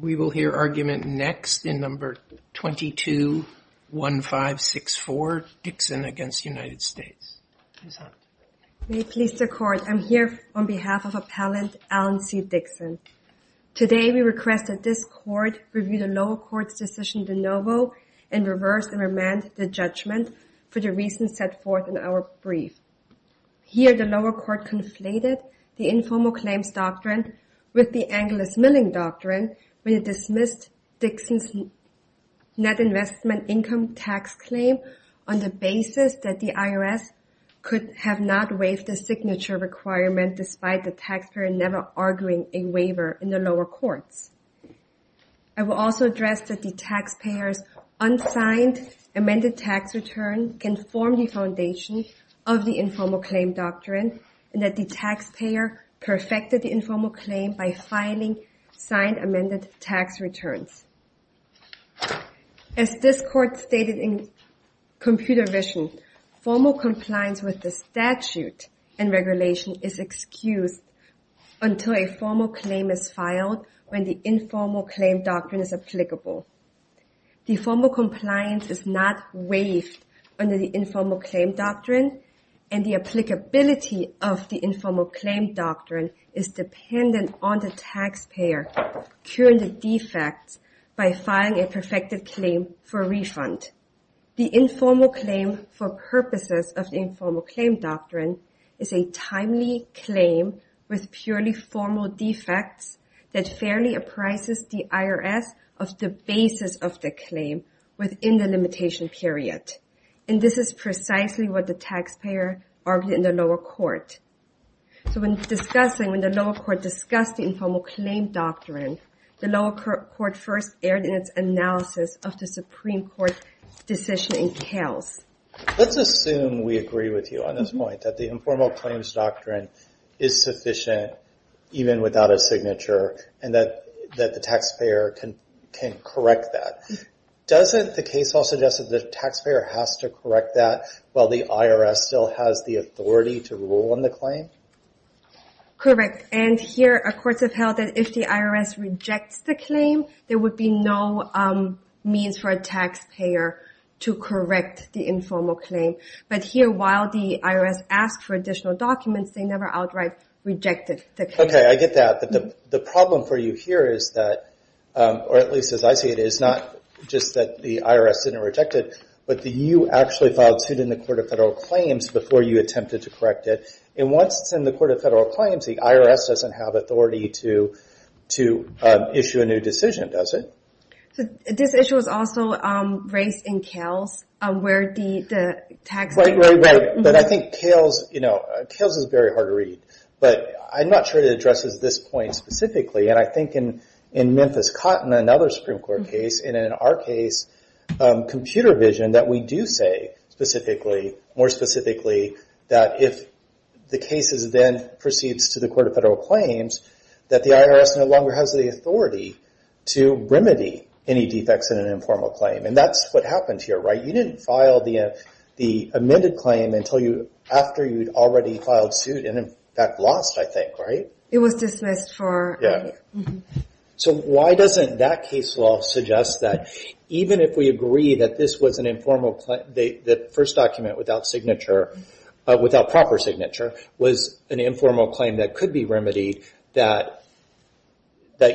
We will hear argument next in No. 221564, Dixon v. United States. May it please the Court, I am here on behalf of Appellant Alan C. Dixon. Today we request that this Court review the lower court's decision de novo and reverse and remand the judgment for the reasons set forth in our brief. Here the lower court conflated the informal claims doctrine with the Angeles Milling Doctrine when it dismissed Dixon's net investment income tax claim on the basis that the IRS could have not waived the signature requirement despite the taxpayer never arguing a waiver in the lower courts. I will also address that the taxpayer's unsigned amended tax return can form the foundation of the informal claim doctrine and that the taxpayer perfected the informal claim by filing signed amended tax returns. As this Court stated in Computer Vision, formal compliance with the statute and regulation is excused until a formal claim is filed when the informal claim doctrine is applicable. The formal compliance is not waived under the informal claim doctrine and the applicability of the informal claim doctrine is dependent on the taxpayer curing the defects by filing a perfected claim for refund. The informal claim for purposes of the informal claim doctrine is a timely claim with purely formal defects that fairly appraises the IRS of the basis of the claim within the limitation period. This is precisely what the taxpayer argued in the lower court. When the lower court discussed the informal claim doctrine, the lower court first aired in its analysis of the Supreme Court decision in Kales. Let's assume we agree with you on this point, that the informal claims doctrine is sufficient even without a signature and that the taxpayer can correct that. Doesn't the case also suggest that the taxpayer has to correct that while the IRS still has the authority to rule on the claim? Correct. And here our courts have held that if the IRS rejects the claim, there would be no means for a taxpayer to correct the informal claim. But here, while the IRS asked for additional documents, they never outright rejected the claim. Okay, I get that. The problem for you here is that, or at least as I see it, is not just that the IRS didn't reject it, but that you actually filed suit in the Court of Federal Claims before you attempted to correct it and once it's in the Court of Federal Claims, the IRS doesn't have authority to issue a new decision, does it? So, this issue is also raised in Kales, where the taxpayer... Right, right, right. But I think Kales, you know, Kales is very hard to read, but I'm not sure it addresses this point specifically. And I think in Memphis Cotton, another Supreme Court case, and in our case, Computer Vision, that we do say specifically, more specifically, that if the case is then proceeds to the Court of Federal Claims, that the IRS no longer has the authority to remedy any defects in an informal claim. And that's what happened here, right? You didn't file the amended claim until after you'd already filed suit and in fact lost, I think, right? It was dismissed for... Yeah. So, why doesn't that case law suggest that even if we agree that this was an informal claim, the first document without signature, without proper signature, was an informal claim that could be remedied, that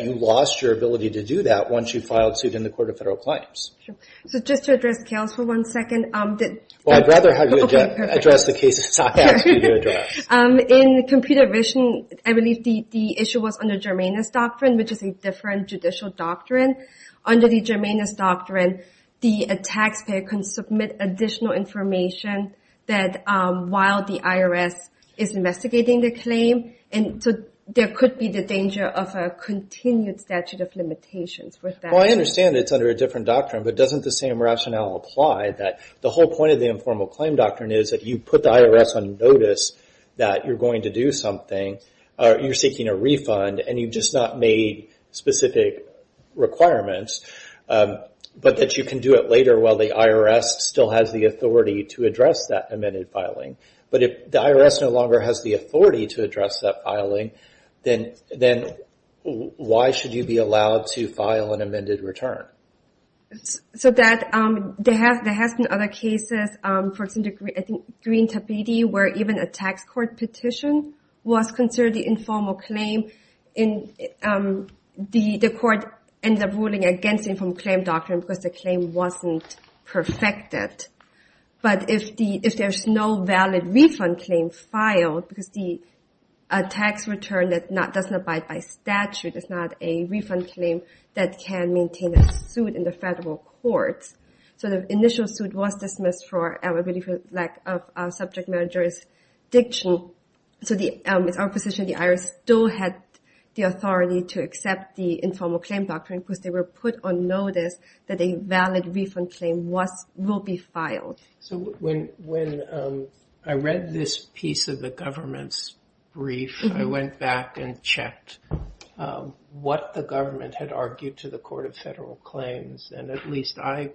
you lost your ability to do that once you filed suit in the Court of Federal Claims? Sure. So, just to address Kales for one second... Well, I'd rather have you address the cases I asked you to address. In Computer Vision, I believe the issue was under Germania's doctrine, which is a different judicial doctrine. Under the Germania's doctrine, the taxpayer can submit additional information that while the IRS is investigating the claim, and so there could be the danger of a continued statute of limitations. Well, I understand it's under a different doctrine, but doesn't the same rationale apply that the whole point of the informal claim doctrine is that you put the IRS on notice that you're going to do something, you're seeking a refund, and you've just not made specific requirements, but that you can do it later while the IRS still has the authority to address that amended filing. But if the IRS no longer has the authority to address that filing, then why should you be allowed to file an amended return? So there have been other cases, for example, I think Green-Tabiti, where even a tax court petition was considered the informal claim, and the court ended up ruling against the informal claim doctrine because the claim wasn't perfected. But if there's no valid refund claim filed, because the tax return doesn't abide by statute, it's not a refund claim that can maintain a suit in the federal courts, so the initial suit was dismissed for a lack of subject matter jurisdiction, so it's our position the IRS still had the authority to accept the informal claim doctrine because they were put on notice that a valid refund claim will be filed. So when I read this piece of the government's brief, I went back and checked what the government had argued to the Court of Federal Claims, and at least I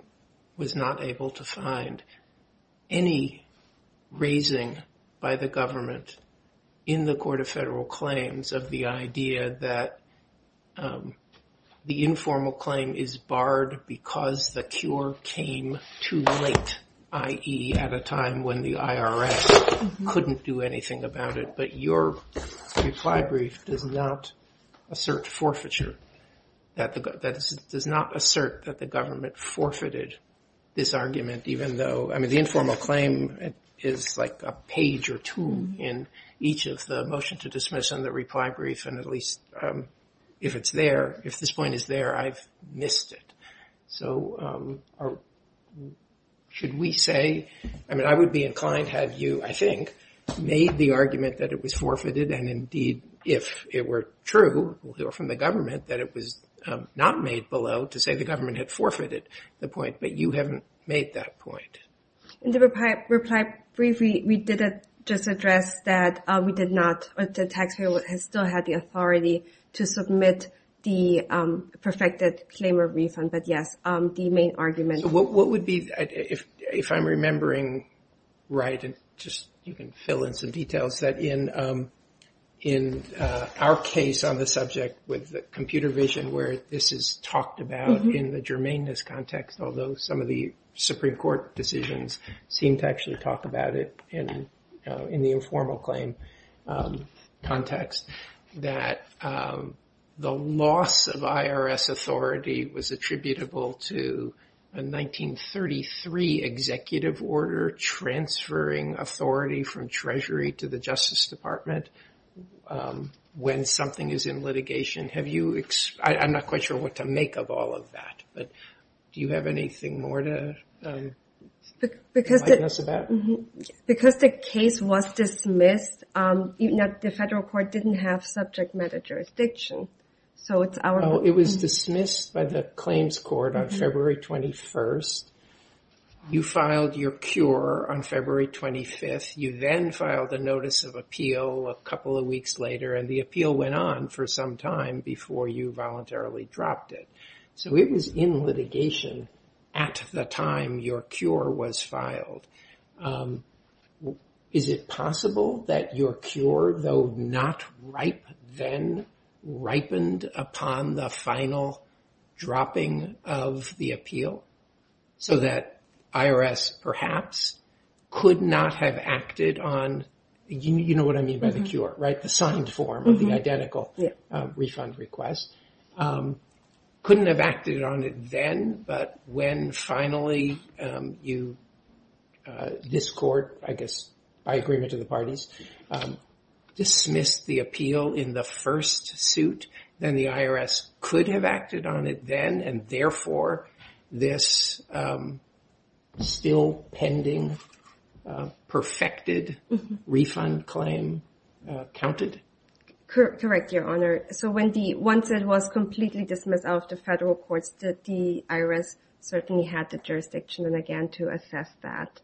was not able to find any raising by the government in the Court of Federal Claims of the idea that the informal claim is barred because the cure came too late, i.e. at a time when the IRS couldn't do anything about it. But your reply brief does not assert forfeiture, does not assert that the government forfeited this argument, even though the informal claim is like a page or two in each of the motion to dismiss and the reply brief, and at least if it's there, if this point is there, I've missed it. So should we say, I mean, I would be inclined to have you, I think, made the argument that it was forfeited, and indeed, if it were true from the government that it was not made below to say the government had forfeited the point, but you haven't made that point. In the reply brief, we did just address that we did not, the taxpayer still had the authority to submit the perfected claim of refund, but yes, the main argument. What would be, if I'm remembering right, and just you can fill in some details, that in our case on the subject with the computer vision where this is talked about in the germaneness context, although some of the Supreme Court decisions seem to actually talk about it in the informal claim context, that the loss of IRS authority was attributable to a 1933 executive order transferring authority from Treasury to the Justice Department when something is in litigation. Have you, I'm not quite sure what to make of all of that, but do you have anything more to remind us about? Because the case was dismissed, the federal court didn't have subject matter jurisdiction, so it's our... It was dismissed by the claims court on February 21st, you filed your cure on February 25th, you then filed a notice of appeal a couple of weeks later, and the appeal went on for some time before you voluntarily dropped it, so it was in litigation at the time your cure was filed. Is it possible that your cure, though not ripe then, ripened upon the final dropping of the appeal so that IRS perhaps could not have acted on, you know what I mean by the cure, right? The signed form of the identical refund request, couldn't have acted on it then, but when finally you, this court, I guess by agreement of the parties, dismissed the appeal in the first suit, then the IRS could have acted on it then, and therefore this still pending, perfected refund claim counted? Correct, Your Honor. So when the, once it was completely dismissed out of the federal courts, the IRS certainly had the jurisdiction, again, to assess that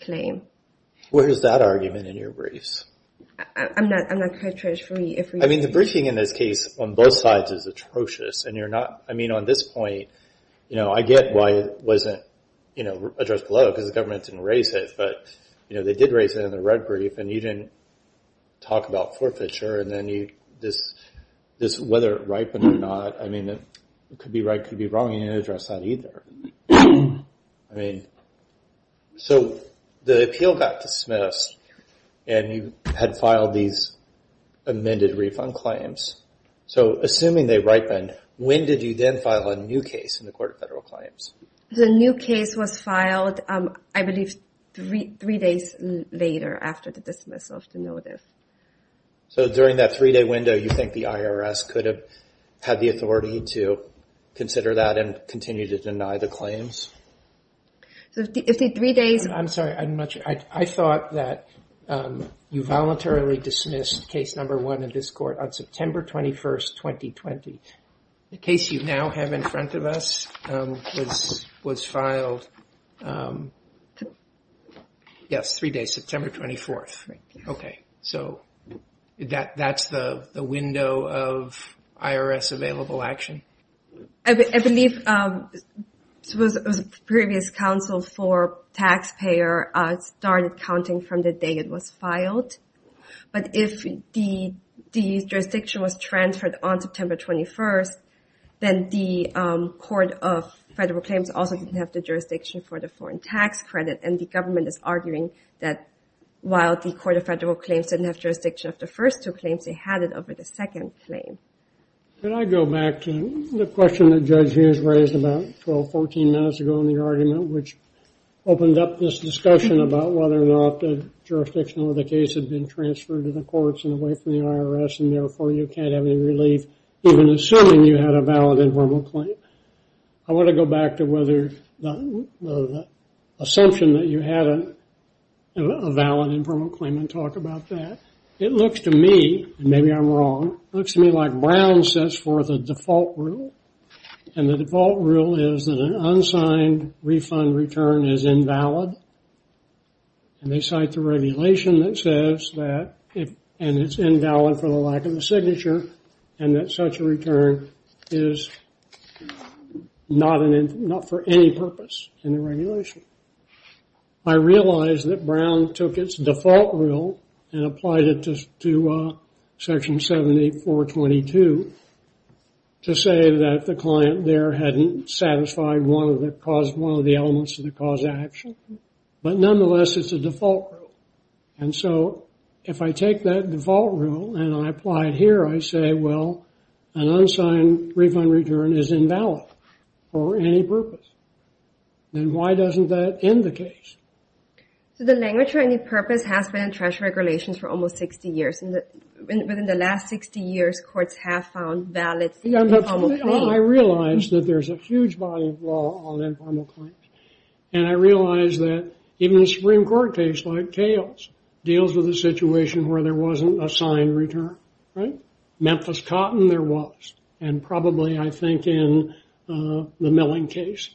claim. Where is that argument in your briefs? I'm not quite sure if we... I mean the briefing in this case on both sides is atrocious, and you're not, I mean on this point, I get why it wasn't addressed below, because the government didn't raise it, but they did raise it in the red brief, and you didn't talk about forfeiture, and then you, this whether it ripened or not, I mean it could be right, could be wrong, you didn't I mean, so the appeal got dismissed, and you had filed these amended refund claims, so assuming they ripened, when did you then file a new case in the court of federal claims? The new case was filed, I believe, three days later after the dismissal of the notice. So during that three-day window, you think the IRS could have had the authority to consider that and continue to deny the claims? So if the three days... I'm sorry, I'm not sure. I thought that you voluntarily dismissed case number one in this court on September 21st, 2020. The case you now have in front of us was filed, yes, three days, September 24th, okay. So that's the window of IRS available action? I believe the previous counsel for taxpayer started counting from the day it was filed, but if the jurisdiction was transferred on September 21st, then the court of federal claims also didn't have the jurisdiction for the foreign tax credit, and the government is arguing that while the court of federal claims didn't have jurisdiction of the first two claims, they had it over the second claim. Can I go back to the question that Judge Hughes raised about 12, 14 minutes ago in the argument, which opened up this discussion about whether or not the jurisdiction of the case had been transferred to the courts and away from the IRS, and therefore you can't have any relief even assuming you had a valid and verbal claim. I want to go back to whether the assumption that you had a valid and verbal claim and talk about that. It looks to me, and maybe I'm wrong, it looks to me like Brown sets forth a default rule, and the default rule is that an unsigned refund return is invalid, and they cite the regulation that says that, and it's invalid for the lack of a signature, and that such a return is not for any purpose in the regulation. I realize that Brown took its default rule and applied it to Section 7422 to say that the client there hadn't satisfied one of the elements of the cause action, but nonetheless it's a default rule. And so if I take that default rule and I apply it here, I say, well, an unsigned refund return is invalid for any purpose, then why doesn't that end the case? So the language for any purpose has been in trash regulations for almost 60 years, and within the last 60 years courts have found valid informal claims. I realize that there's a huge body of law on informal claims, and I realize that even a Supreme Court case like Kales deals with a situation where there wasn't a signed return. Memphis Cotton, there was, and probably I think in the Milling case,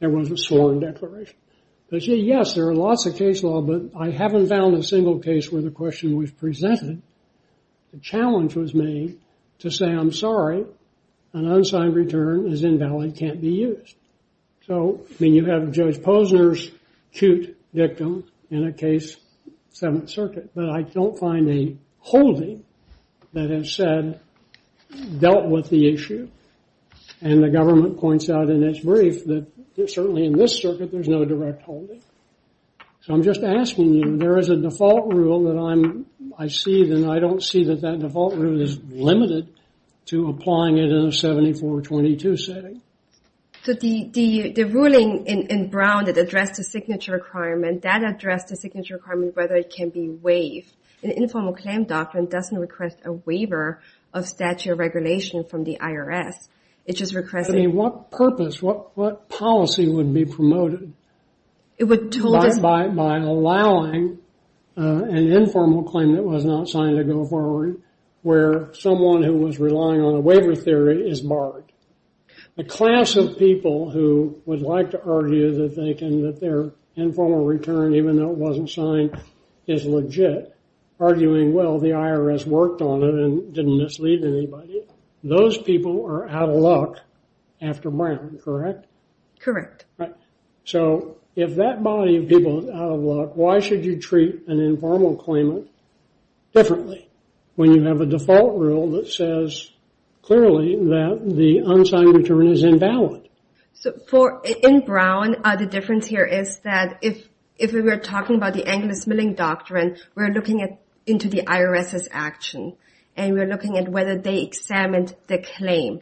there was a sworn declaration. But yes, there are lots of case law, but I haven't found a single case where the question was presented, the challenge was made to say, I'm sorry, an unsigned return is invalid, can't be used. So, I mean, you have Judge Posner's acute victim in a case, Seventh Circuit, but I don't find a holding that has said, dealt with the issue. And the government points out in its brief that certainly in this circuit there's no direct holding. So I'm just asking you, there is a default rule that I see, and I don't see that that default rule is limited to applying it in a 74-22 setting. So the ruling in Brown that addressed the signature requirement, that addressed the informal claim doctrine doesn't request a waiver of statute of regulation from the IRS. It just requests... I mean, what purpose, what policy would be promoted by allowing an informal claim that was not signed to go forward, where someone who was relying on a waiver theory is barred? The class of people who would like to argue that their informal return, even though it is legit, arguing, well, the IRS worked on it and didn't mislead anybody, those people are out of luck after Brown, correct? Correct. Right. So if that body of people is out of luck, why should you treat an informal claimant differently, when you have a default rule that says clearly that the unsigned return is invalid? So in Brown, the difference here is that if we were talking about the Angeles Milling Doctrine, we're looking into the IRS's action, and we're looking at whether they examined the claim.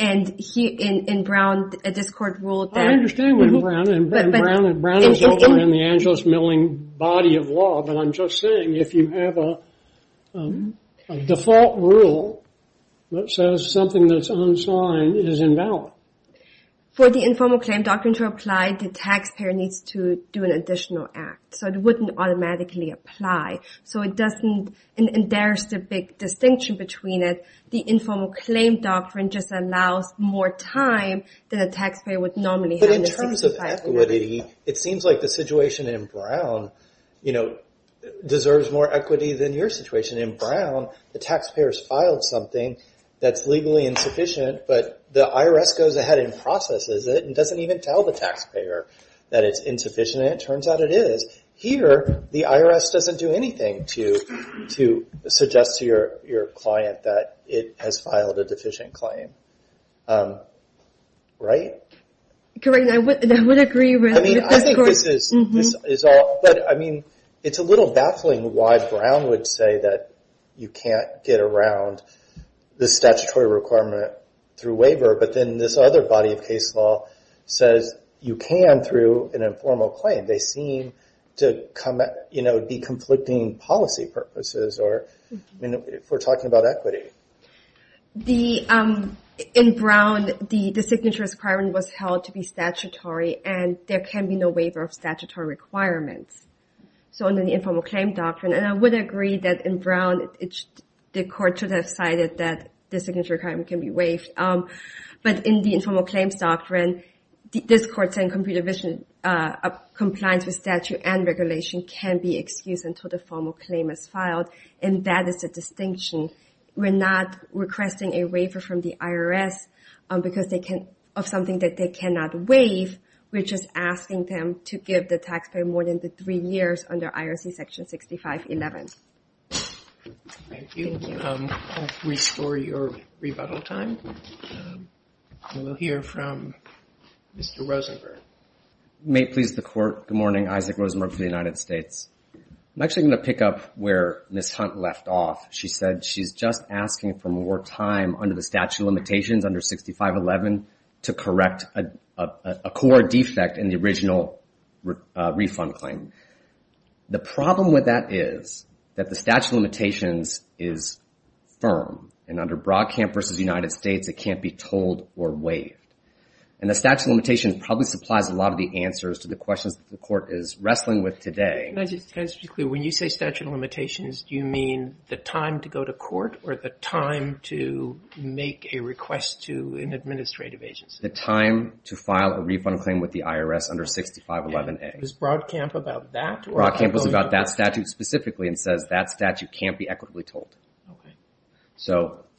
And in Brown, this court ruled that... I understand what Brown... But... Brown is over in the Angeles Milling body of law, but I'm just saying, if you have a default rule that says something that's unsigned, it is invalid. For the informal claim doctrine to apply, the taxpayer needs to do an additional act. So it wouldn't automatically apply. So it doesn't... And there's the big distinction between it. The informal claim doctrine just allows more time than a taxpayer would normally have. But in terms of equity, it seems like the situation in Brown deserves more equity than your situation. In Brown, the taxpayer's filed something that's legally insufficient, but the IRS goes ahead and processes it, and doesn't even tell the taxpayer that it's insufficient, and it turns out it is. Here, the IRS doesn't do anything to suggest to your client that it has filed a deficient claim. Correct. I would agree with this court. I mean, I think this is all... It's a little baffling why Brown would say that you can't get around the statutory requirement through waiver, but then this other body of case law says you can through an informal claim. They seem to be conflicting policy purposes for talking about equity. In Brown, the signature requirement was held to be statutory, and there can be no waiver of statutory requirements. So under the informal claim doctrine, and I would agree that in Brown, the court should have cited that the signature requirement can be waived. But in the informal claims doctrine, this court's saying compliance with statute and regulation can be excused until the formal claim is filed, and that is the distinction. We're not requesting a waiver from the IRS of something that they cannot waive. We're just asking them to give the taxpayer more than the three years under IRC section 6511. Thank you. I'll restore your rebuttal time. We'll hear from Mr. Rosenberg. May it please the court. Good morning. Isaac Rosenberg for the United States. I'm actually going to pick up where Ms. Hunt left off. She said she's just asking for more time under the statute of limitations under 6511 to correct a core defect in the original refund claim. The problem with that is that the statute of limitations is firm, and under Broadcamp versus the United States, it can't be told or waived. And the statute of limitations probably supplies a lot of the answers to the questions that the court is wrestling with today. Can I just be clear? When you say statute of limitations, do you mean the time to go to court or the time to make a request to an administrative agency? The time to file a refund claim with the IRS under 6511A. Was Broadcamp about that? Broadcamp was about that statute specifically and says that statute can't be equitably told.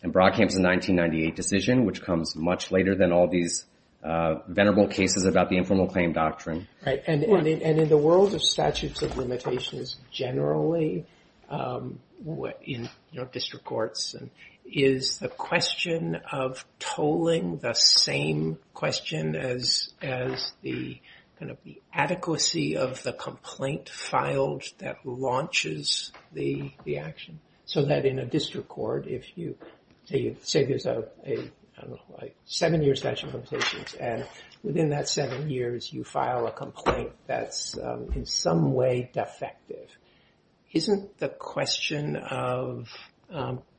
And Broadcamp's a 1998 decision, which comes much later than all these venerable cases about the informal claim doctrine. Right. And in the world of statutes of limitations generally, in district courts, is the question of tolling the same question as the kind of the adequacy of the complaint filed that launches the action? So that in a district court, if you say there's a seven-year statute of limitations, and within that seven years you file a complaint that's in some way defective, isn't the question of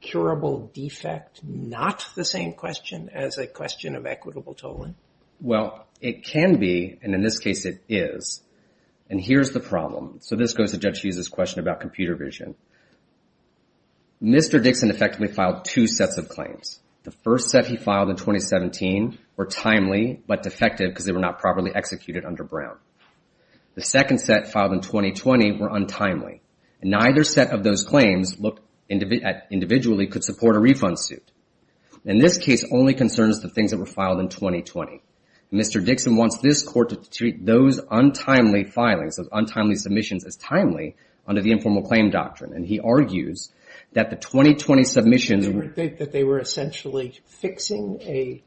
curable defect not the same question as a question of equitable tolling? Well, it can be, and in this case it is. And here's the problem. So this goes to Judge Hughes' question about computer vision. Mr. Dixon effectively filed two sets of claims. The first set he filed in 2017 were timely but defective because they were not properly executed under Brown. The second set filed in 2020 were untimely. Neither set of those claims individually could support a refund suit. In this case, only concern is the things that were filed in 2020. Mr. Dixon wants this court to treat those untimely filings, those untimely submissions as timely under the informal claim doctrine. And he argues that the 2020 submissions were- That they were essentially fixing a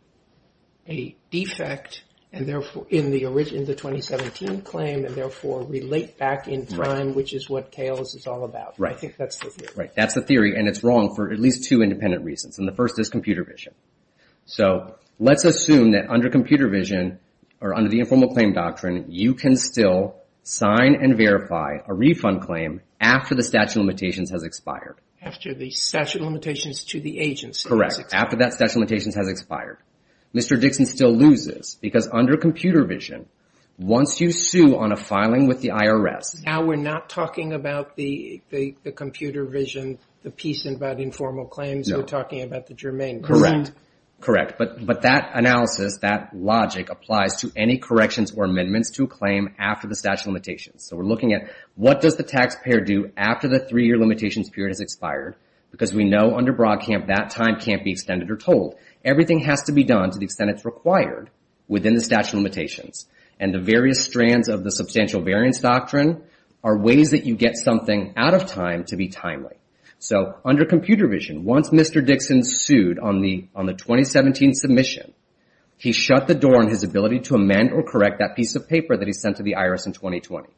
defect in the 2017 claim and therefore relate back in time, which is what KLS is all about. I think that's the theory. Right. That's the theory, and it's wrong for at least two independent reasons, and the first is computer vision. So let's assume that under computer vision, or under the informal claim doctrine, you can still sign and verify a refund claim after the statute of limitations has expired. After the statute of limitations to the agency. Correct. After that statute of limitations has expired. Mr. Dixon still loses because under computer vision, once you sue on a filing with the Now we're not talking about the computer vision, the piece about informal claims, we're talking about the germane. Correct. Correct. But that analysis, that logic applies to any corrections or amendments to a claim after the statute of limitations. So we're looking at what does the taxpayer do after the three-year limitations period has expired? Because we know under Broadcamp, that time can't be extended or told. Everything has to be done to the extent it's required within the statute of limitations. And the various strands of the substantial variance doctrine are ways that you get something out of time to be timely. So under computer vision, once Mr. Dixon sued on the 2017 submission, he shut the door on his ability to amend or correct that piece of paper that he sent to the IRS in 2020.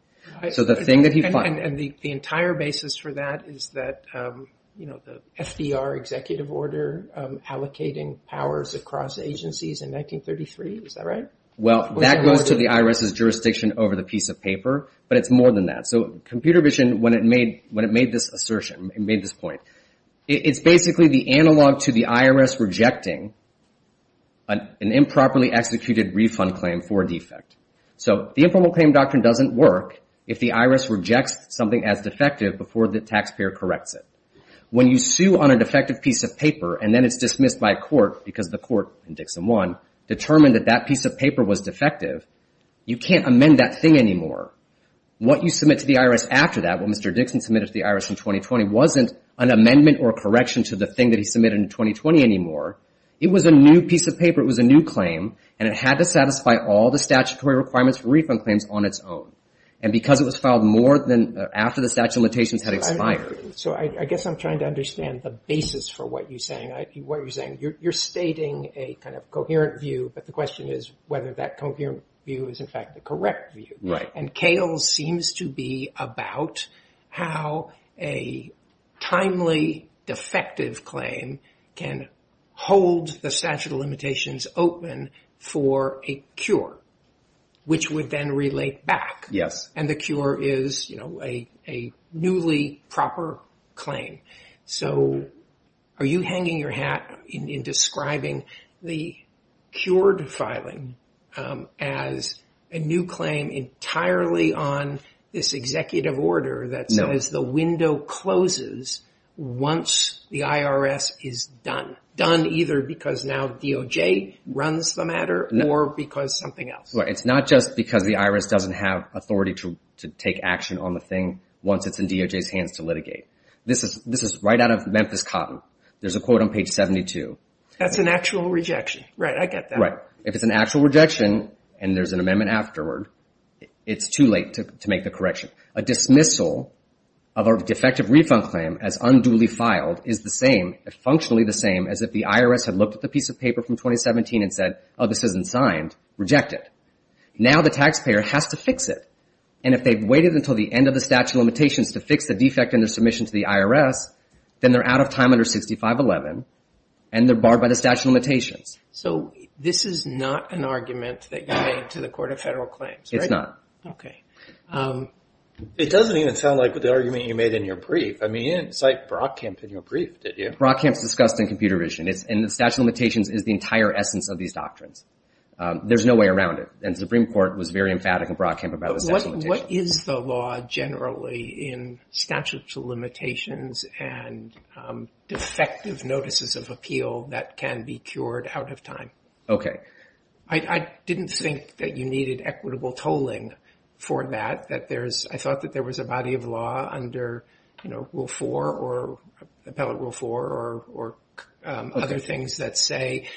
So the thing that he filed- And the entire basis for that is that the FDR executive order allocating powers across agencies in 1933, is that right? Well, that goes to the IRS's jurisdiction over the piece of paper. But it's more than that. So computer vision, when it made this assertion, it made this point, it's basically the analog to the IRS rejecting an improperly executed refund claim for a defect. So the informal claim doctrine doesn't work if the IRS rejects something as defective before the taxpayer corrects it. When you sue on a defective piece of paper, and then it's dismissed by court, because the court in Dixon 1 determined that that piece of paper was defective, you can't amend that thing anymore. What you submit to the IRS after that, what Mr. Dixon submitted to the IRS in 2020, wasn't an amendment or a correction to the thing that he submitted in 2020 anymore. It was a new piece of paper, it was a new claim, and it had to satisfy all the statutory requirements for refund claims on its own. And because it was filed more than after the statute of limitations had expired. What you're saying, you're stating a kind of coherent view, but the question is whether that coherent view is in fact the correct view. And Cale seems to be about how a timely defective claim can hold the statute of limitations open for a cure, which would then relate back. And the cure is a newly proper claim. So are you hanging your hat in describing the cured filing as a new claim entirely on this executive order that says the window closes once the IRS is done. Done either because now DOJ runs the matter, or because something else. It's not just because the IRS doesn't have authority to take action on the thing once This is right out of Memphis Cotton. There's a quote on page 72. That's an actual rejection. Right, I get that. Right. If it's an actual rejection and there's an amendment afterward, it's too late to make the correction. A dismissal of a defective refund claim as unduly filed is the same, functionally the same as if the IRS had looked at the piece of paper from 2017 and said, oh, this isn't signed. Reject it. Now the taxpayer has to fix it. And if they've waited until the end of the statute of limitations to fix the defect in their submission to the IRS, then they're out of time under 6511, and they're barred by the statute of limitations. So this is not an argument that you made to the Court of Federal Claims, right? It's not. Okay. It doesn't even sound like the argument you made in your brief. I mean, you didn't cite Brockamp in your brief, did you? Brockamp's discussed in Computer Vision, and the statute of limitations is the entire essence of these doctrines. There's no way around it. And the Supreme Court was very emphatic in Brockamp about the statute of limitations. What is the law generally in statute of limitations and defective notices of appeal that can be cured out of time? Okay. I didn't think that you needed equitable tolling for that. I thought that there was a body of law under Rule 4 or Appellate Rule 4 or other things that say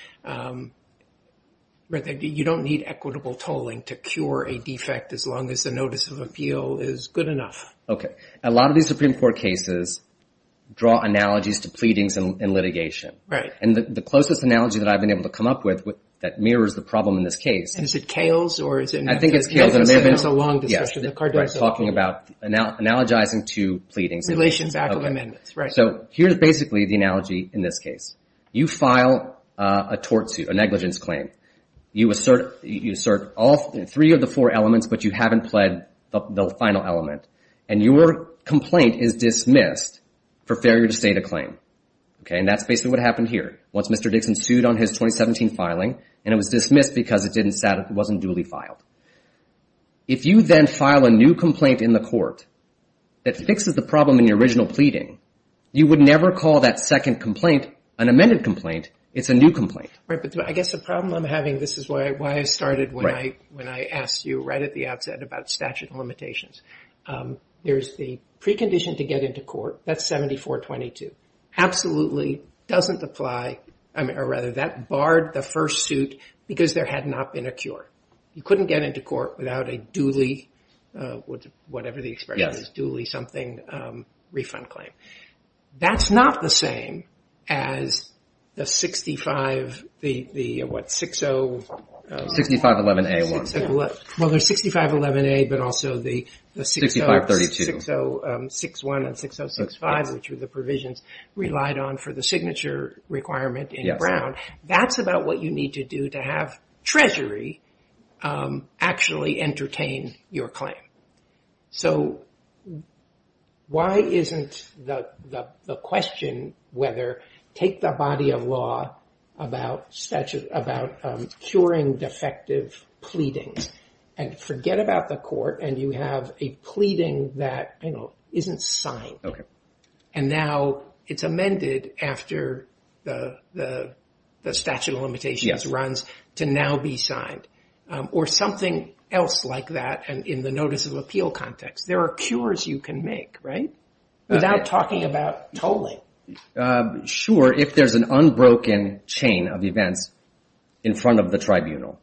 you don't need equitable tolling to cure a defect as long as the notice of appeal is good enough. Okay. A lot of these Supreme Court cases draw analogies to pleadings in litigation. And the closest analogy that I've been able to come up with that mirrors the problem in this case... And is it Kales or is it... I think it's Kales and Amendments. It's been so long, especially the Cardozo. Yeah. Right. Talking about analogizing to pleadings. Relations back with amendments, right. So here's basically the analogy in this case. You file a tort suit, a negligence claim. You assert all three of the four elements, but you haven't pled the final element. And your complaint is dismissed for failure to state a claim. Okay. And that's basically what happened here. Once Mr. Dixon sued on his 2017 filing, and it was dismissed because it wasn't duly filed. If you then file a new complaint in the court that fixes the problem in your original pleading, you would never call that second complaint an amended complaint. It's a new complaint. Right. But I guess the problem I'm having... This is why I started when I asked you right at the outset about statute of limitations. There's the precondition to get into court, that's 74-22. Absolutely doesn't apply, or rather that barred the first suit because there had not been a cure. You couldn't get into court without a duly, whatever the expression is, duly something refund claim. That's not the same as the 65, the what, 6-0- 6511-A. Well, there's 6511-A, but also the 6-0- 6532. 6-0-6-1 and 6-0-6-5, which were the provisions relied on for the signature requirement in Brown. That's about what you need to do to have Treasury actually entertain your claim. So why isn't the question whether, take the body of law about curing defective pleadings and forget about the court, and you have a pleading that isn't signed, and now it's amended after the statute of limitations runs to now be signed. Or something else like that in the notice of appeal context. There are cures you can make, right? Without talking about tolling. Sure, if there's an unbroken chain of events in front of the tribunal.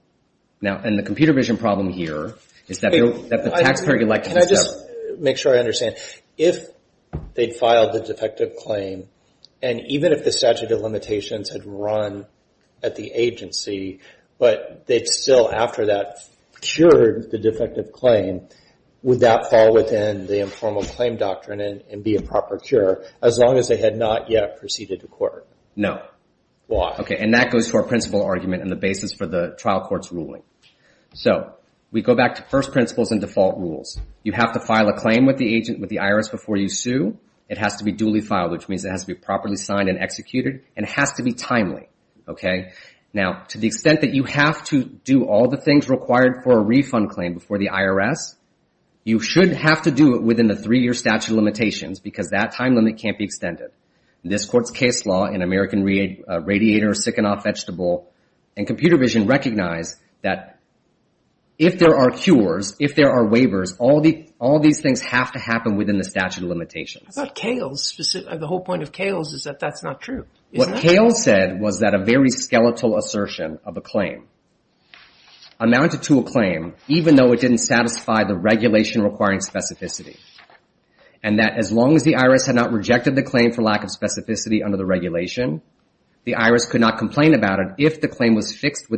And the computer vision problem here is that the taxpayer could like- Can I just make sure I understand? If they filed the defective claim, and even if the statute of limitations had run at the appeal after that cured the defective claim, would that fall within the informal claim doctrine and be a proper cure, as long as they had not yet proceeded to court? No. Why? Okay, and that goes to our principle argument and the basis for the trial court's ruling. So we go back to first principles and default rules. You have to file a claim with the IRS before you sue. It has to be duly filed, which means it has to be properly signed and executed, and it has to be timely. Okay? Now, to the extent that you have to do all the things required for a refund claim before the IRS, you should have to do it within the three-year statute of limitations, because that time limit can't be extended. This court's case law in American Radiator, Sikhanoff Vegetable, and computer vision recognize that if there are cures, if there are waivers, all these things have to happen within the statute of limitations. I thought Kales, the whole point of Kales is that that's not true. What Kales said was that a very skeletal assertion of a claim amounted to a claim, even though it didn't satisfy the regulation requiring specificity, and that as long as the IRS had not rejected the claim for lack of specificity under the regulation, the IRS could not complain about it if the claim was fixed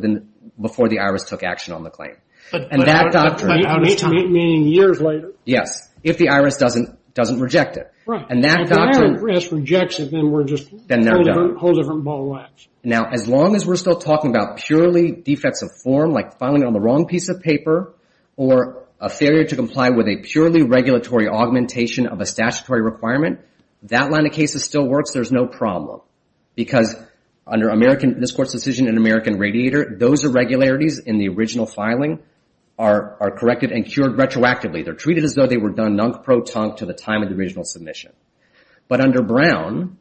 before the IRS took action on the claim. And that doctrine... But out of time, meaning years later? Yes, if the IRS doesn't reject it. And that doctrine... A whole different ball of wax. Now, as long as we're still talking about purely defects of form, like filing on the wrong piece of paper, or a failure to comply with a purely regulatory augmentation of a statutory requirement, that line of cases still works, there's no problem. Because under this court's decision in American Radiator, those irregularities in the original filing are corrected and cured retroactively. They're treated as though they were done non-proton to the time of the original submission. But under Brown,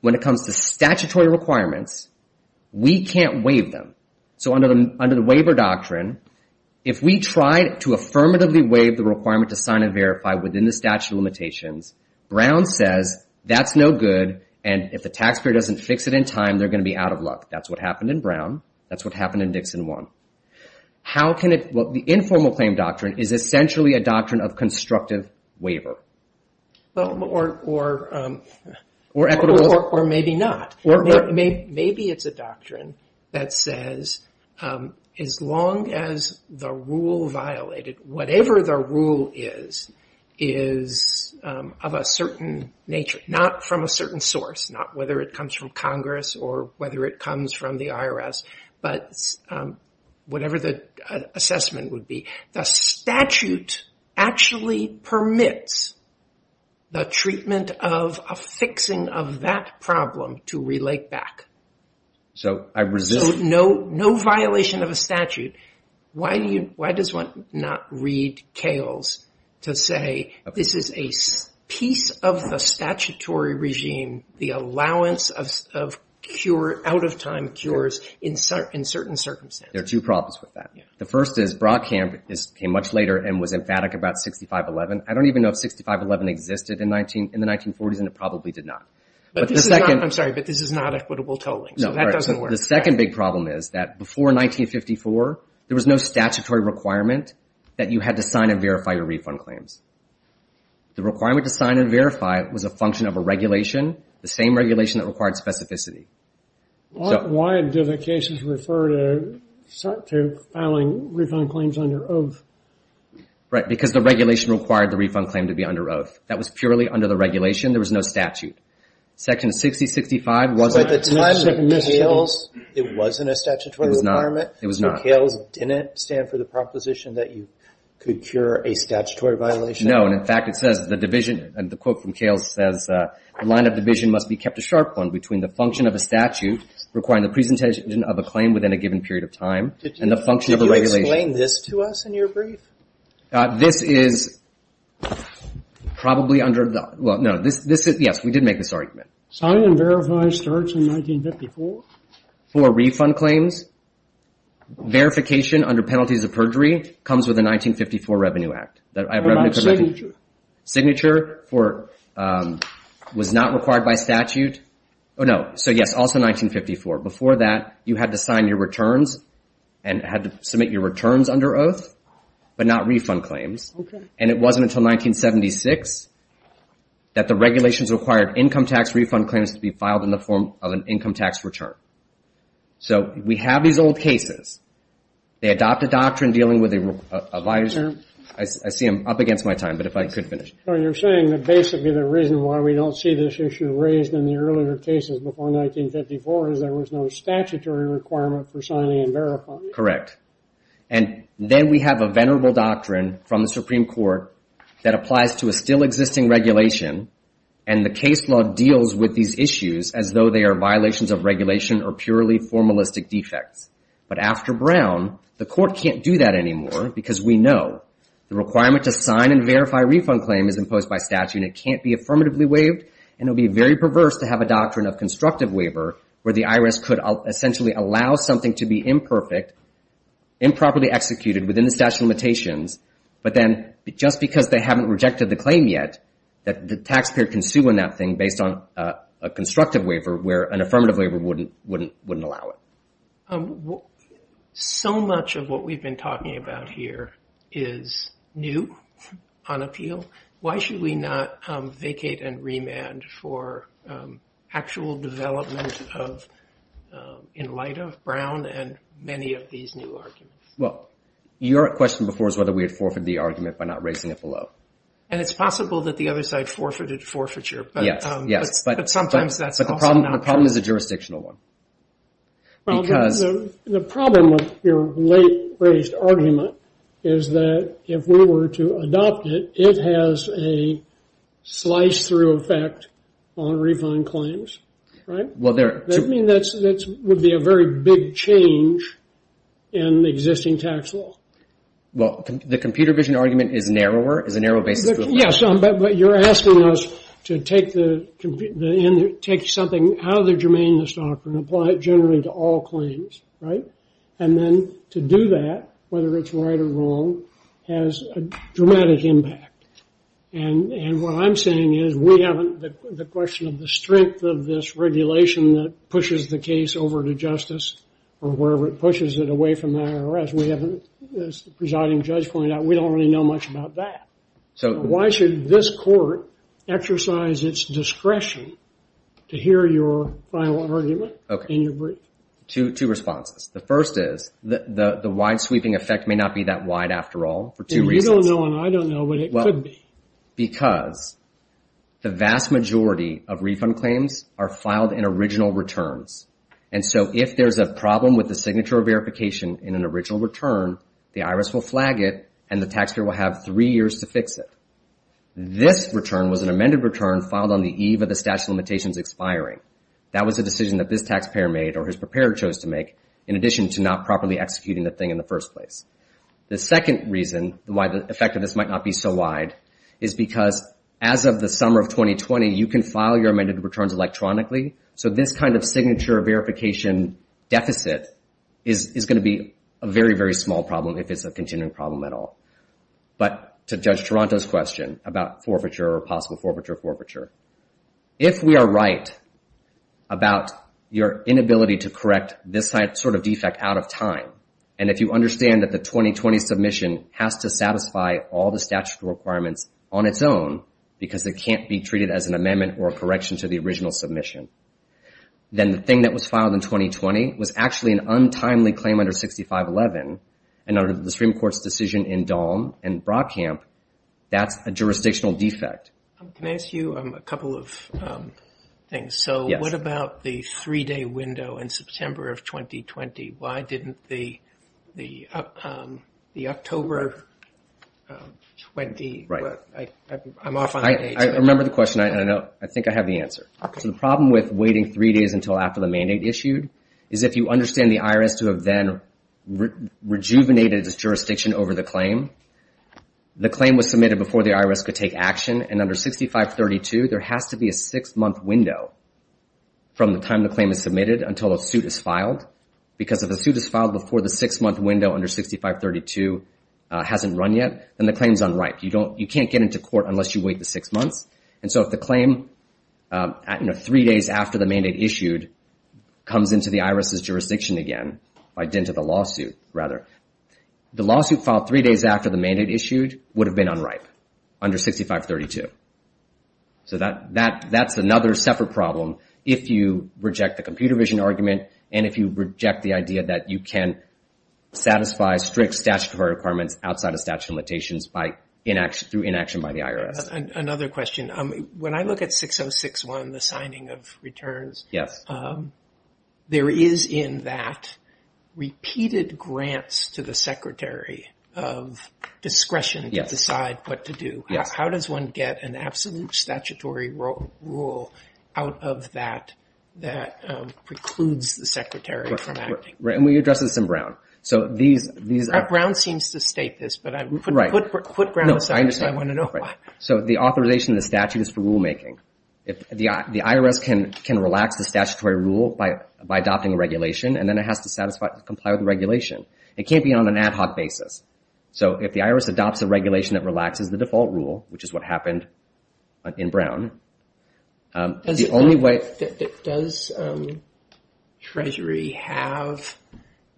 when it comes to statutory requirements, we can't waive them. So under the waiver doctrine, if we try to affirmatively waive the requirement to sign and verify within the statute of limitations, Brown says, that's no good, and if the taxpayer doesn't fix it in time, they're going to be out of luck. That's what happened in Brown. That's what happened in Dixon 1. How can it... Well, the informal claim doctrine is essentially a doctrine of constructive waiver. Well, or maybe not. Maybe it's a doctrine that says, as long as the rule violated, whatever the rule is, is of a certain nature, not from a certain source, not whether it comes from Congress or whether it comes from the IRS, but whatever the assessment would be. The statute actually permits the treatment of a fixing of that problem to relate back. So no violation of a statute. Why does one not read Kales to say, this is a piece of the statutory regime, the allowance of out-of-time cures in certain circumstances? There are two problems with that. The first is Brockham came much later and was emphatic about 6511. I don't even know if 6511 existed in the 1940s, and it probably did not. But this is not... I'm sorry, but this is not equitable tolling, so that doesn't work. The second big problem is that before 1954, there was no statutory requirement that you had to sign and verify your refund claims. The requirement to sign and verify was a function of a regulation, the same regulation that required specificity. Why do the cases refer to filing refund claims under oath? Right, because the regulation required the refund claim to be under oath. That was purely under the regulation. There was no statute. Section 6065 wasn't... But at the time of Kales, it wasn't a statutory requirement. It was not. So Kales didn't stand for the proposition that you could cure a statutory violation? No, and in fact, it says the division, and the quote from Kales says, the line of division must be kept a sharp one between the function of a statute requiring the presentation of a claim within a given period of time and the function of a regulation. Did you explain this to us in your brief? This is probably under the... Well, no. This is... Yes, we did make this argument. Sign and verify starts in 1954? For refund claims, verification under penalties of perjury comes with the 1954 Revenue Act. That revenue could... What about signature? Signature was not required by statute. Oh, no. So, yes, also 1954. Before that, you had to sign your returns and had to submit your returns under oath, but not refund claims. And it wasn't until 1976 that the regulations required income tax refund claims to be filed in the form of an income tax return. So, we have these old cases. They adopt a doctrine dealing with a visor. I see I'm up against my time, but if I could finish. So, you're saying that basically the reason why we don't see this issue raised in the earlier cases before 1954 is there was no statutory requirement for signing and verifying? Correct. And then we have a venerable doctrine from the Supreme Court that applies to a still existing regulation, and the case law deals with these issues as though they are violations of regulation or purely formalistic defects. But after Brown, the court can't do that anymore because we know the requirement to sign and verify a refund claim is imposed by statute, and it can't be affirmatively waived, and it would be very perverse to have a doctrine of constructive waiver where the IRS could essentially allow something to be imperfect, improperly executed within the statute of limitations, but then just because they haven't rejected the claim yet, the taxpayer can sue on that thing based on a constructive waiver where an affirmative waiver wouldn't allow it. Well, so much of what we've been talking about here is new on appeal. Why should we not vacate and remand for actual development of, in light of Brown and many of these new arguments? Well, your question before was whether we had forfeited the argument by not raising it below. And it's possible that the other side forfeited forfeiture, but sometimes that's also not true. Well, the problem with your late-raised argument is that if we were to adopt it, it has a slice-through effect on refund claims, right? That would be a very big change in existing tax law. Well, the computer vision argument is narrower, is a narrow basis for the claim. Yes, but you're asking us to take something out of the germaneness doctrine and apply it generally to all claims, right? And then to do that, whether it's right or wrong, has a dramatic impact. And what I'm saying is we haven't, the question of the strength of this regulation that pushes the case over to justice or wherever it pushes it away from that arrest, we haven't, as the presiding judge pointed out, we don't really know much about that. So why should this court exercise its discretion to hear your final argument in your brief? Two responses. The first is the wide-sweeping effect may not be that wide after all for two reasons. And you don't know and I don't know what it could be. Because the vast majority of refund claims are filed in original returns. And so if there's a problem with the signature verification in an original return, the IRS will flag it and the taxpayer will have three years to fix it. This return was an amended return filed on the eve of the statute of limitations expiring. That was a decision that this taxpayer made or his preparer chose to make in addition to not properly executing the thing in the first place. The second reason why the effect of this might not be so wide is because as of the summer of 2020, you can file your amended returns electronically. So this kind of signature verification deficit is going to be a very, very small problem if it's a continuing problem at all. But to Judge Toronto's question about forfeiture or possible forfeiture, forfeiture, if we are right about your inability to correct this sort of defect out of time, and if you understand that the 2020 submission has to satisfy all the statutory requirements on its own because they can't be treated as an amendment or a correction to the original submission, then the thing that was filed in 2020 was actually an untimely claim under 6511. And under the Supreme Court's decision in Dahm and Brockamp, that's a jurisdictional defect. Can I ask you a couple of things? So what about the three-day window in September of 2020? Why didn't the October of 20... I'm off on a date. I remember the question. I know. I think I have the answer. So the problem with waiting three days until after the mandate issued is if you understand the IRS to have then rejuvenated its jurisdiction over the claim, the claim was submitted before the IRS could take action. And under 6532, there has to be a six-month window from the time the claim is submitted until a suit is filed. Because if a suit is filed before the six-month window under 6532 hasn't run yet, then the claim is unright. You can't get into court unless you wait the six months. And so if the claim, you know, three days after the mandate issued comes into the IRS's hands again, by dint of the lawsuit, rather, the lawsuit filed three days after the mandate issued would have been unright under 6532. So that's another separate problem if you reject the computer vision argument and if you reject the idea that you can satisfy strict statutory requirements outside of statute of limitations through inaction by the IRS. Another question. When I look at 6061, the signing of returns, there is in that repeated grants to the secretary of discretion to decide what to do. How does one get an absolute statutory rule out of that that precludes the secretary from acting? And we addressed this in Brown. So these... Brown seems to state this, but put Brown aside because I want to know why. So the authorization of the statute is for rulemaking. The IRS can relax the statutory rule by adopting a regulation and then it has to comply with the regulation. It can't be on an ad hoc basis. So if the IRS adopts a regulation that relaxes the default rule, which is what happened in Brown, the only way... Does Treasury have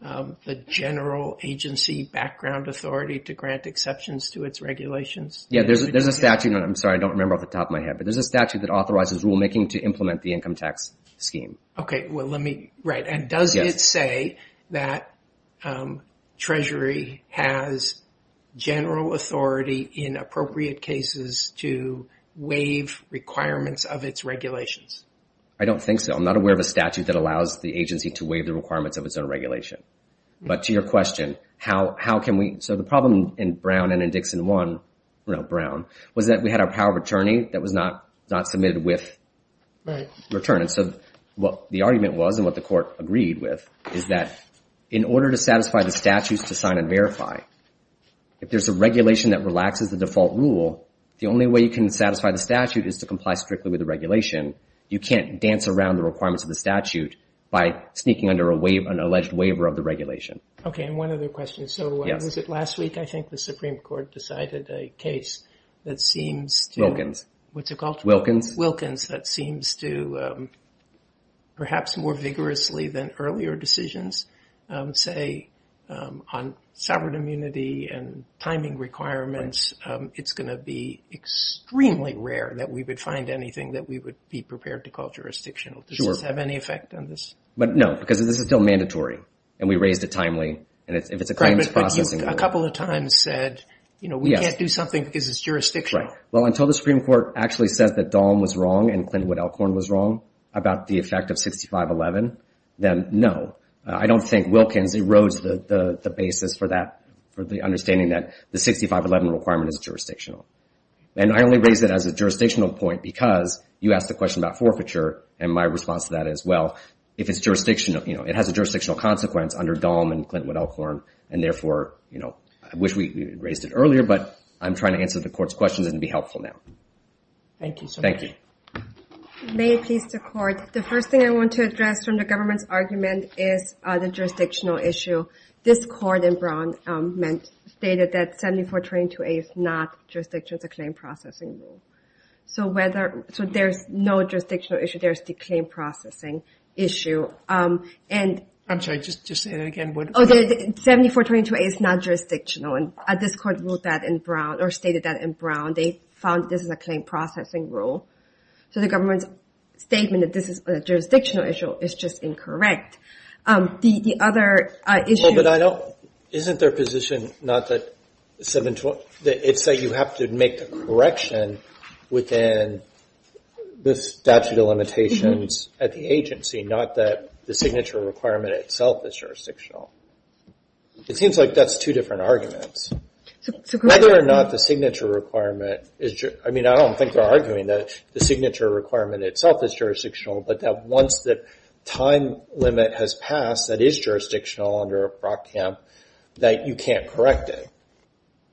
the general agency background authority to grant exceptions to its regulations? Yeah. There's a statute. I'm sorry. I don't remember off the top of my head. But there's a statute that authorizes rulemaking to implement the income tax scheme. Okay. Well, let me... Right. And does it say that Treasury has general authority in appropriate cases to waive requirements of its regulations? I don't think so. I'm not aware of a statute that allows the agency to waive the requirements of its own regulation. But to your question, how can we... So the problem in Brown and in Dixon 1, Brown, was that we had our power of attorney that was not submitted with return. And so what the argument was and what the court agreed with is that in order to satisfy the statutes to sign and verify, if there's a regulation that relaxes the default rule, the only way you can satisfy the statute is to comply strictly with the regulation. You can't dance around the requirements of the statute by sneaking under an alleged waiver of the regulation. Okay. And one other question. Yes. So was it last week, I think, the Supreme Court decided a case that seems to... Wilkins. What's it called? Wilkins. Wilkins. That seems to, perhaps more vigorously than earlier decisions, say on sovereign immunity and timing requirements, it's going to be extremely rare that we would find anything that we would be prepared to call jurisdictional. Sure. No. Because this is still mandatory. And we raised it timely. And if it's a claims processing... Correct. But you, a couple of times said, you know, we can't do something because it's jurisdictional. Right. Well, until the Supreme Court actually says that Dahlm was wrong and Clintwood Alcorn was wrong about the effect of 6511, then no. I don't think Wilkins erodes the basis for that, for the understanding that the 6511 requirement is jurisdictional. And I only raise it as a jurisdictional point because you asked the question about forfeiture and my response to that is, well, if it's jurisdictional, you know, it has a jurisdictional consequence under Dahlm and Clintwood Alcorn. And therefore, you know, I wish we raised it earlier, but I'm trying to answer the Court's questions and be helpful now. Thank you, sir. Thank you. May it please the Court, the first thing I want to address from the government's argument is the jurisdictional issue. This Court in Brown stated that 7422A is not jurisdictional, it's a claim processing rule. So whether... So there's no jurisdictional issue, there's the claim processing issue. I'm sorry, just say that again. 7422A is not jurisdictional, and this Court ruled that in Brown, or stated that in Brown. They found this is a claim processing rule. So the government's statement that this is a jurisdictional issue is just incorrect. The other issue... Well, but I don't... Isn't their position not that 72... It's that you have to make the correction within the statute of limitations at the agency, not that the signature requirement itself is jurisdictional. It seems like that's two different arguments. So correct... Whether or not the signature requirement is... I mean, I don't think they're arguing that the signature requirement itself is jurisdictional, but that once the time limit has passed, that is jurisdictional under Brockhamp, that you can't correct it.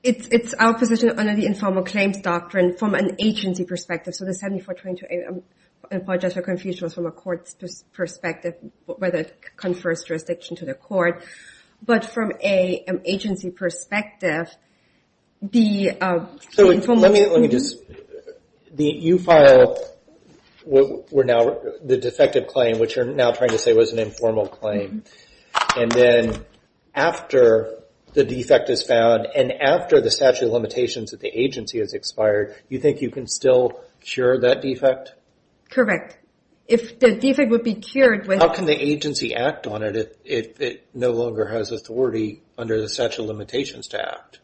It's our position under the informal claims doctrine from an agency perspective. So the 7422A, I apologize for confusion, was from a court's perspective, whether it confers jurisdiction to the court. But from an agency perspective, the informal... Let me just... You file the defective claim, which you're now trying to say was an informal claim. And then after the defect is found, and after the statute of limitations at the agency has cured that defect? Correct. If the defect would be cured with... How can the agency act on it if it no longer has authority under the statute of limitations to act?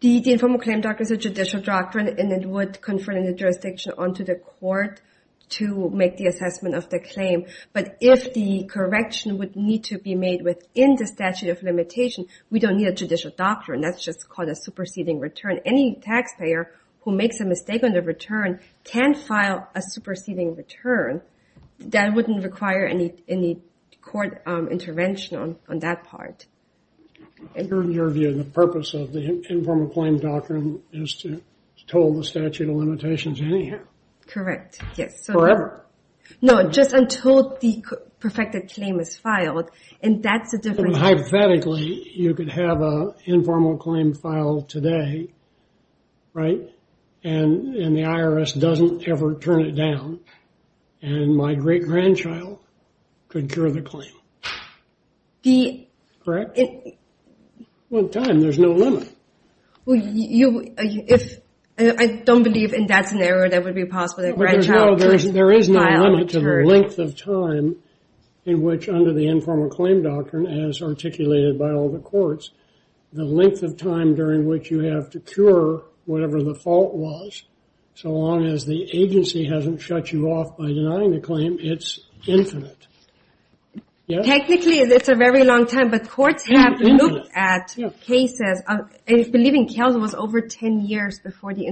The informal claim doctrine is a judicial doctrine, and it would confer the jurisdiction onto the court to make the assessment of the claim. But if the correction would need to be made within the statute of limitation, we don't need a judicial doctrine. That's just called a superseding return. Any taxpayer who makes a mistake on the return can file a superseding return. That wouldn't require any court intervention on that part. In your view, the purpose of the informal claim doctrine is to toll the statute of limitations anyhow? Correct, yes. Forever? No, just until the perfected claim is filed. And that's a different... Sympathetically, you could have an informal claim filed today, right, and the IRS doesn't ever turn it down, and my great-grandchild could cure the claim. The... Correct? One time. There's no limit. Well, you... If... I don't believe in that scenario that it would be possible that a grandchild could file a return. No, there is no limit to the length of time in which under the informal claim doctrine as articulated by all the courts, the length of time during which you have to cure whatever the fault was, so long as the agency hasn't shut you off by denying the claim, it's infinite. Yes? Technically, it's a very long time, but courts have looked at cases. I believe in Calgary, it was over 10 years before the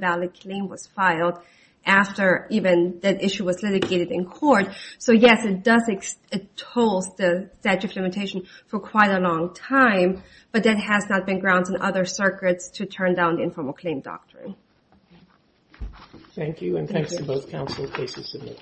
valid claim was filed after even that issue was litigated in court. So, yes, it does... It holds the statute of limitation for quite a long time, but that has not been grounds in other circuits to turn down the informal claim doctrine. Thank you, and thanks to both counsel. Thank you.